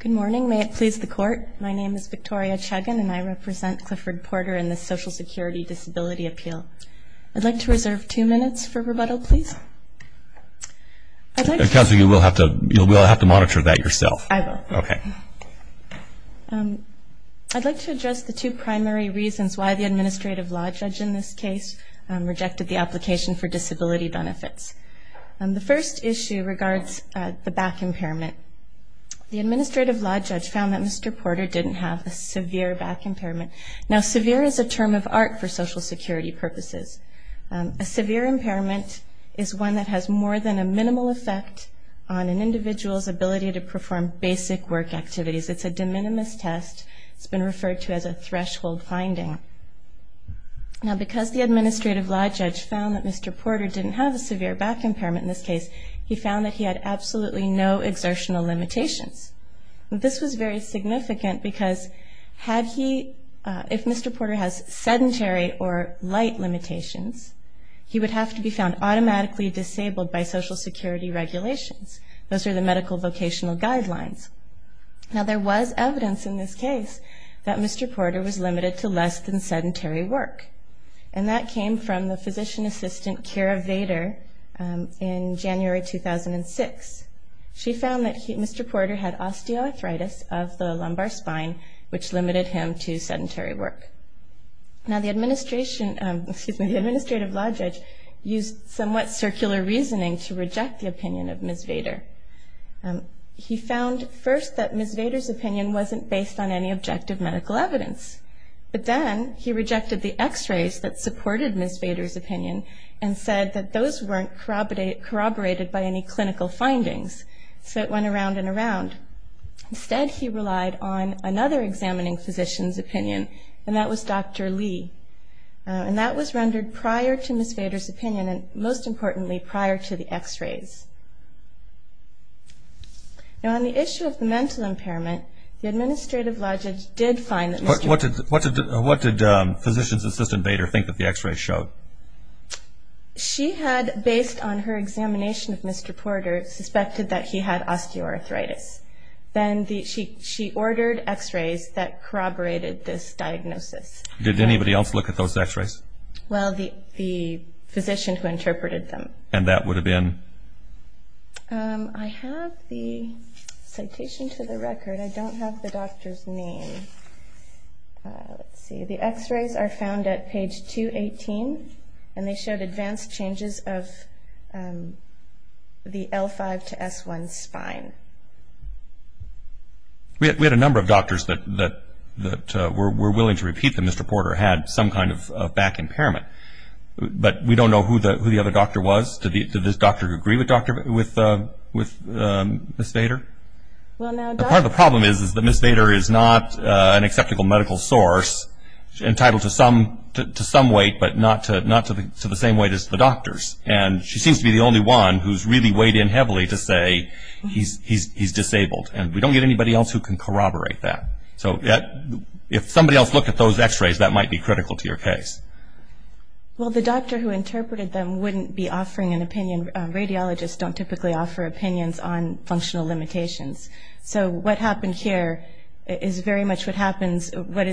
Good morning, may it please the court. My name is Victoria Chagin and I represent Clifford Porter in the Social Security Disability Appeal. I'd like to reserve two minutes for rebuttal, please. Counsel, you will have to monitor that yourself. I will. Okay. I'd like to address the two primary reasons why the administrative law judge in this case rejected the application for disability benefits. The first issue regards the back impairment. The administrative law judge found that Mr. Porter didn't have a severe back impairment. Now, severe is a term of art for Social Security purposes. A severe impairment is one that has more than a minimal effect on an individual's ability to perform basic work activities. It's a de minimis test. It's been referred to as a threshold finding. Now, because the administrative law judge found that Mr. Porter didn't have a severe back impairment in this case, he found that he had absolutely no exertional limitations. This was very significant because if Mr. Porter has sedentary or light limitations, he would have to be found automatically disabled by Social Security regulations. Those are the medical vocational guidelines. Now, there was evidence in this case that Mr. Porter was limited to less than sedentary work, and that came from the physician assistant, Kara Vader, in January 2006. She found that Mr. Porter had osteoarthritis of the lumbar spine, which limited him to sedentary work. Now, the administrative law judge used somewhat circular reasoning to reject the opinion of Ms. Vader. He found first that Ms. Vader's opinion wasn't based on any objective medical evidence, but then he rejected the X-rays that supported Ms. Vader's opinion and said that those weren't corroborated by any clinical findings, so it went around and around. Instead, he relied on another examining physician's opinion, and that was Dr. Lee, and that was rendered prior to Ms. Vader's opinion and, most importantly, prior to the X-rays. Now, on the issue of the mental impairment, the administrative law judge did find that Mr. Porter What did physician's assistant, Vader, think that the X-rays showed? She had, based on her examination of Mr. Porter, suspected that he had osteoarthritis. Then she ordered X-rays that corroborated this diagnosis. Did anybody else look at those X-rays? Well, the physician who interpreted them. And that would have been? I have the citation to the record. I don't have the doctor's name. Let's see. The X-rays are found at page 218, and they showed advanced changes of the L5 to S1 spine. We had a number of doctors that were willing to repeat that Mr. Porter had some kind of back impairment, but we don't know who the other doctor was. Did this doctor agree with Ms. Vader? Part of the problem is that Ms. Vader is not an acceptable medical source entitled to some weight, but not to the same weight as the doctors, and she seems to be the only one who's really weighed in heavily to say he's disabled, and we don't get anybody else who can corroborate that. So if somebody else looked at those X-rays, that might be critical to your case. Well, the doctor who interpreted them wouldn't be offering an opinion. Radiologists don't typically offer opinions on functional limitations. So what happened here is very much what happens, what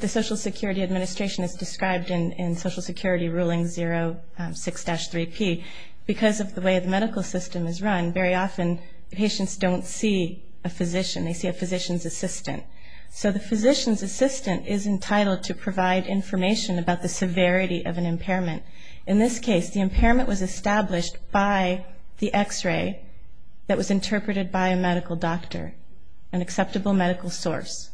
the Social Security Administration has described in Social Security Ruling 06-3P. Because of the way the medical system is run, very often patients don't see a physician. They see a physician's assistant. So the physician's assistant is entitled to provide information about the severity of an impairment. In this case, the impairment was established by the X-ray that was interpreted by a medical doctor, an acceptable medical source.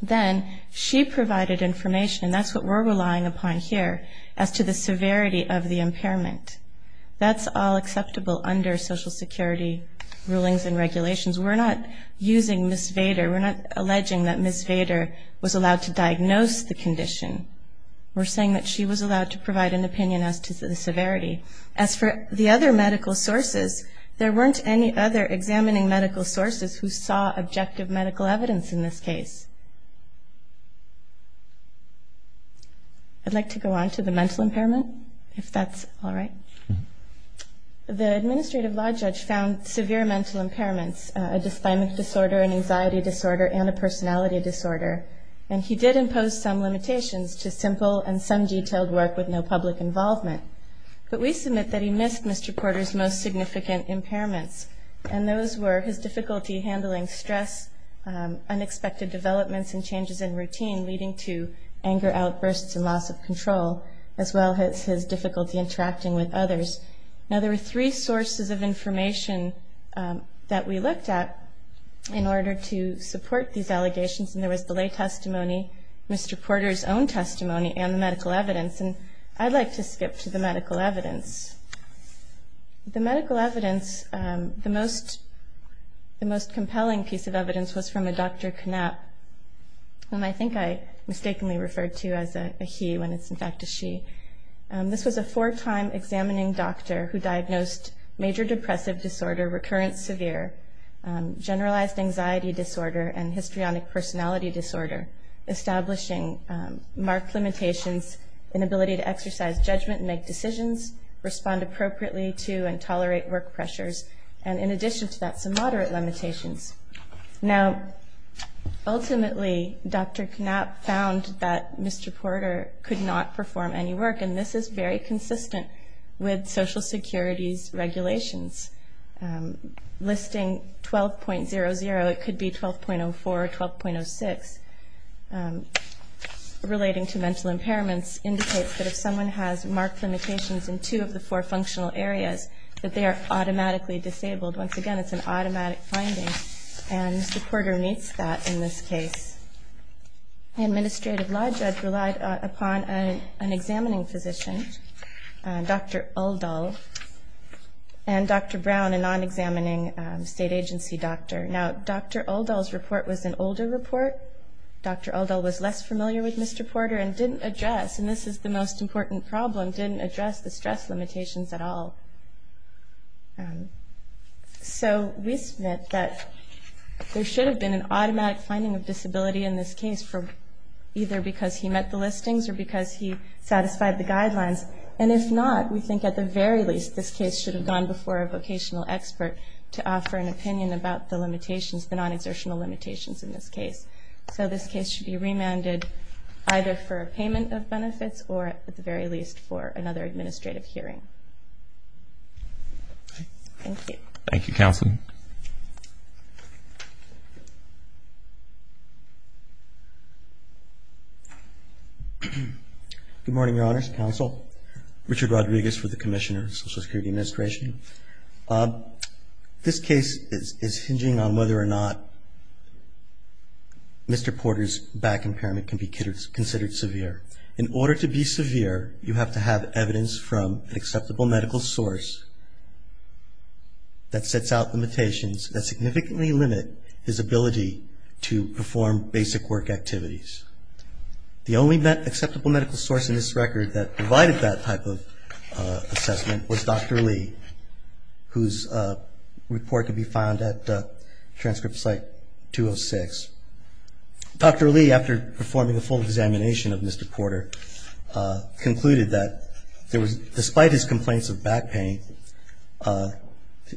Then she provided information, and that's what we're relying upon here, as to the severity of the impairment. That's all acceptable under Social Security rulings and regulations. We're not using Ms. Vader. We're not alleging that Ms. Vader was allowed to diagnose the condition. We're saying that she was allowed to provide an opinion as to the severity. As for the other medical sources, there weren't any other examining medical sources who saw objective medical evidence in this case. I'd like to go on to the mental impairment, if that's all right. The administrative law judge found severe mental impairments, a dysphagmic disorder, an anxiety disorder, and a personality disorder. And he did impose some limitations to simple and some detailed work with no public involvement. But we submit that he missed Mr. Porter's most significant impairments, and those were his difficulty handling stress, unexpected developments and changes in routine, leading to anger outbursts and loss of control, as well as his difficulty interacting with others. Now, there were three sources of information that we looked at in order to support these allegations, and there was the lay testimony, Mr. Porter's own testimony, and the medical evidence. And I'd like to skip to the medical evidence. The medical evidence, the most compelling piece of evidence was from a Dr. Knapp, whom I think I mistakenly referred to as a he when it's in fact a she. This was a four-time examining doctor who diagnosed major depressive disorder, recurrent severe, generalized anxiety disorder, and histrionic personality disorder, establishing marked limitations, inability to exercise judgment and make decisions, respond appropriately to and tolerate work pressures, and in addition to that, some moderate limitations. Now, ultimately, Dr. Knapp found that Mr. Porter could not perform any work, and this is very consistent with Social Security's regulations. Listing 12.00, it could be 12.04 or 12.06, relating to mental impairments, indicates that if someone has marked limitations in two of the four functional areas, that they are automatically disabled. Once again, it's an automatic finding, and Mr. Porter meets that in this case. Administrative law judge relied upon an examining physician, Dr. Uldahl, and Dr. Brown, a non-examining state agency doctor. Now, Dr. Uldahl's report was an older report. Dr. Uldahl was less familiar with Mr. Porter and didn't address, and this is the most important problem, didn't address the stress limitations at all. So we submit that there should have been an automatic finding of disability in this case, either because he met the listings or because he satisfied the guidelines, and if not, we think at the very least this case should have gone before a vocational expert to offer an opinion about the limitations, the non-exertional limitations in this case. So this case should be remanded either for a payment of benefits or at the very least for another administrative hearing. Thank you. Thank you, Counsel. Good morning, Your Honors, Counsel. Richard Rodriguez with the Commissioner of the Social Security Administration. This case is hinging on whether or not Mr. Porter's back impairment can be considered severe. In order to be severe, you have to have evidence from an acceptable medical source that sets out limitations that significantly limit his ability to perform basic work activities. The only acceptable medical source in this record that provided that type of assessment was Dr. Lee, whose report can be found at transcript site 206. Dr. Lee, after performing a full examination of Mr. Porter, concluded that despite his complaints of back pain,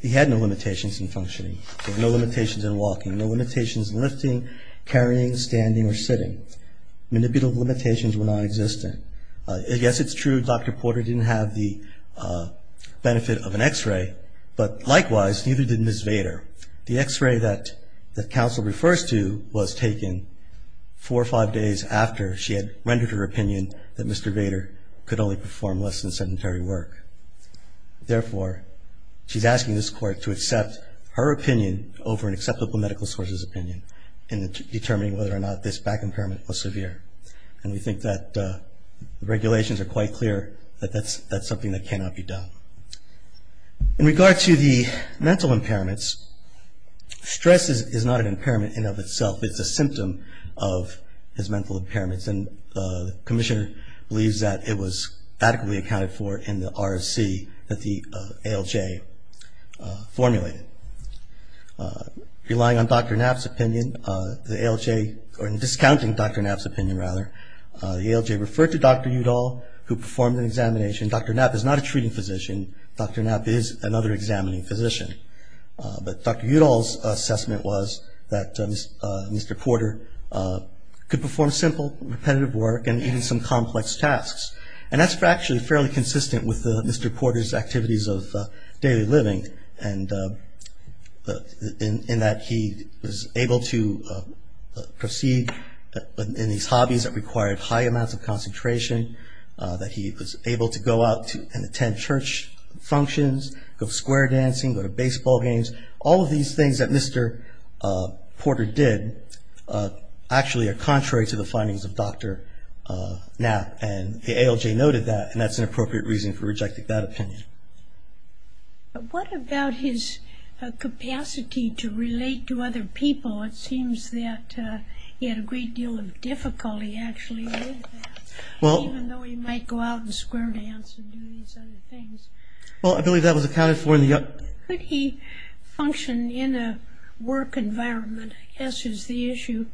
he had no limitations in functioning. He had no limitations in walking, no limitations in lifting, carrying, standing, or sitting. Manipulative limitations were nonexistent. Yes, it's true Dr. Porter didn't have the benefit of an x-ray, but likewise, neither did Ms. Vader. The x-ray that Counsel refers to was taken four or five days after she had rendered her opinion that Mr. Vader could only perform less than sedentary work. Therefore, she's asking this Court to accept her opinion over an acceptable medical source's opinion in determining whether or not this back impairment was severe. And we think that the regulations are quite clear that that's something that cannot be done. In regard to the mental impairments, stress is not an impairment in and of itself. It's a symptom of his mental impairments, and the Commissioner believes that it was adequately accounted for in the RSC that the ALJ formulated. Relying on Dr. Knapp's opinion, the ALJ, or discounting Dr. Knapp's opinion rather, the ALJ referred to Dr. Udall, who performed an examination. Dr. Knapp is not a treating physician. Dr. Knapp is another examining physician. But Dr. Udall's assessment was that Mr. Porter could perform simple, repetitive work and even some complex tasks. And that's actually fairly consistent with Mr. Porter's activities of daily living, in that he was able to proceed in these hobbies that required high amounts of concentration, that he was able to go out and attend church functions, go to square dancing, go to baseball games. All of these things that Mr. Porter did actually are contrary to the findings of Dr. Knapp, and the ALJ noted that, and that's an appropriate reason for rejecting that opinion. What about his capacity to relate to other people? It seems that he had a great deal of difficulty actually with that. Even though he might go out and square dance and do these other things. Well, I believe that was accounted for in the- Could he function in a work environment, I guess is the issue.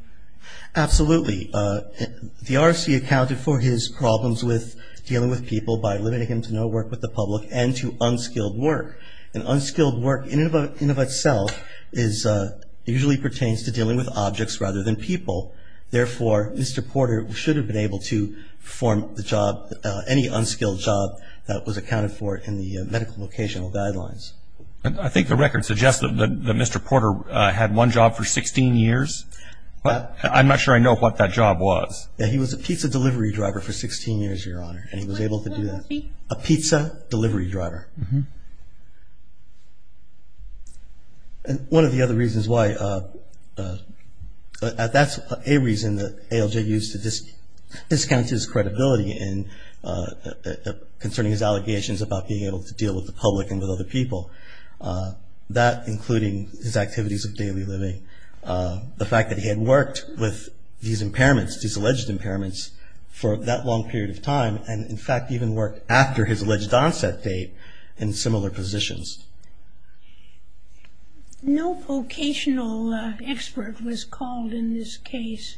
Absolutely. The RSC accounted for his problems with dealing with people by limiting him to no work with the public and to unskilled work. And unskilled work in and of itself usually pertains to dealing with objects rather than people. Therefore, Mr. Porter should have been able to perform the job, any unskilled job that was accounted for in the medical vocational guidelines. I think the record suggests that Mr. Porter had one job for 16 years. I'm not sure I know what that job was. He was a pizza delivery driver for 16 years, Your Honor, and he was able to do that. A pizza delivery driver. And one of the other reasons why, that's a reason that ALJ used to discount his credibility concerning his allegations about being able to deal with the public and with other people. That including his activities of daily living. The fact that he had worked with these impairments, these alleged impairments, for that long period of time and in fact even worked after his alleged onset date in similar positions. No vocational expert was called in this case.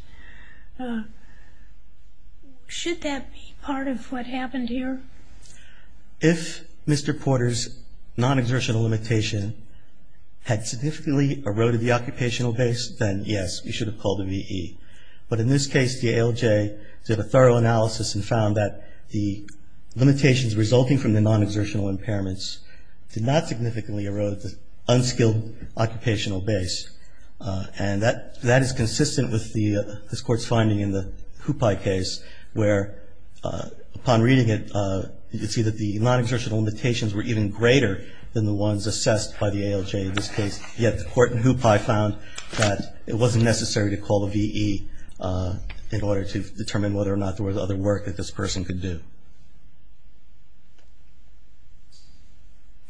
Should that be part of what happened here? If Mr. Porter's non-exertional limitation had significantly eroded the occupational base, then yes, we should have called the VE. But in this case, the ALJ did a thorough analysis and found that the limitations resulting from the non-exertional impairments did not significantly erode the unskilled occupational base. And that is consistent with this Court's finding in the Hupai case, where upon reading it you see that the non-exertional limitations were even greater than the ones assessed by the ALJ in this case. Yet the Court in Hupai found that it wasn't necessary to call the VE in order to determine whether or not there was other work that this person could do.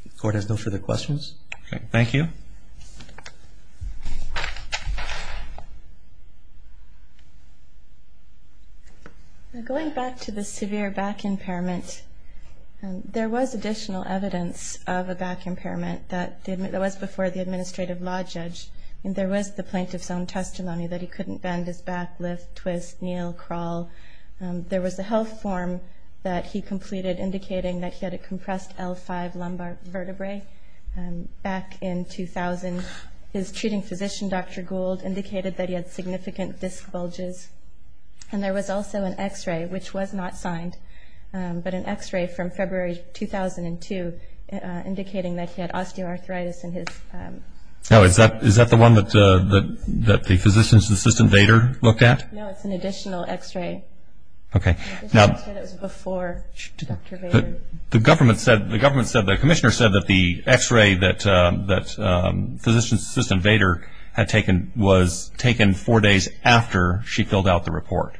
The Court has no further questions. Thank you. Going back to the severe back impairment, there was additional evidence of a back impairment that was before the administrative law judge. There was the plaintiff's own testimony that he couldn't bend his back, lift, twist, kneel, crawl. There was a health form that he completed indicating that he had a compressed L5 lumbar vertebrae. Back in 2000, his treating physician, Dr. Gould, indicated that he had significant disc bulges. And there was also an X-ray, which was not signed, but an X-ray from February 2002 indicating that he had osteoarthritis in his. Oh, is that the one that the physician's assistant, Vader, looked at? No, it's an additional X-ray. Okay. It was before Dr. Vader. The government said, the commissioner said that the X-ray that physician's assistant, Dr. Vader, had taken was taken four days after she filled out the report.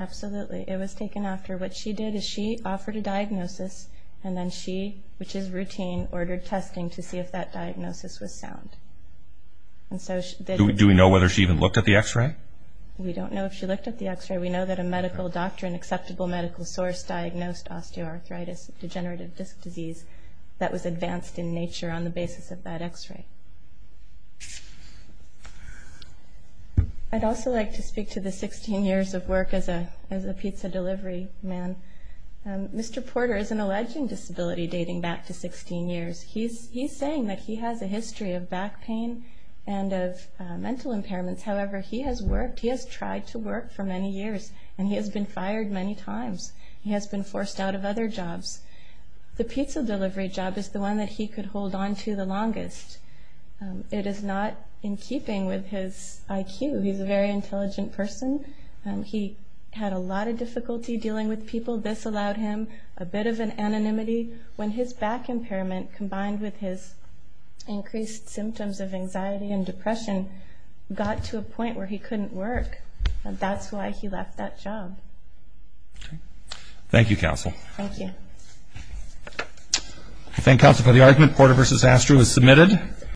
Absolutely. It was taken after. What she did is she offered a diagnosis, and then she, which is routine, ordered testing to see if that diagnosis was sound. Do we know whether she even looked at the X-ray? We don't know if she looked at the X-ray. We know that a medical doctor, an acceptable medical source, diagnosed osteoarthritis, degenerative disc disease, that was advanced in nature on the basis of that X-ray. I'd also like to speak to the 16 years of work as a pizza delivery man. Mr. Porter is an alleged disability dating back to 16 years. He's saying that he has a history of back pain and of mental impairments. However, he has worked, he has tried to work for many years, and he has been fired many times. He has been forced out of other jobs. The pizza delivery job is the one that he could hold on to the longest. It is not in keeping with his IQ. He's a very intelligent person. He had a lot of difficulty dealing with people. This allowed him a bit of an anonymity. When his back impairment combined with his increased symptoms of anxiety and depression got to a point where he couldn't work, that's why he left that job. Thank you, Counsel. Thank you. Thank you, Counsel, for the argument. Porter v. Astro is submitted.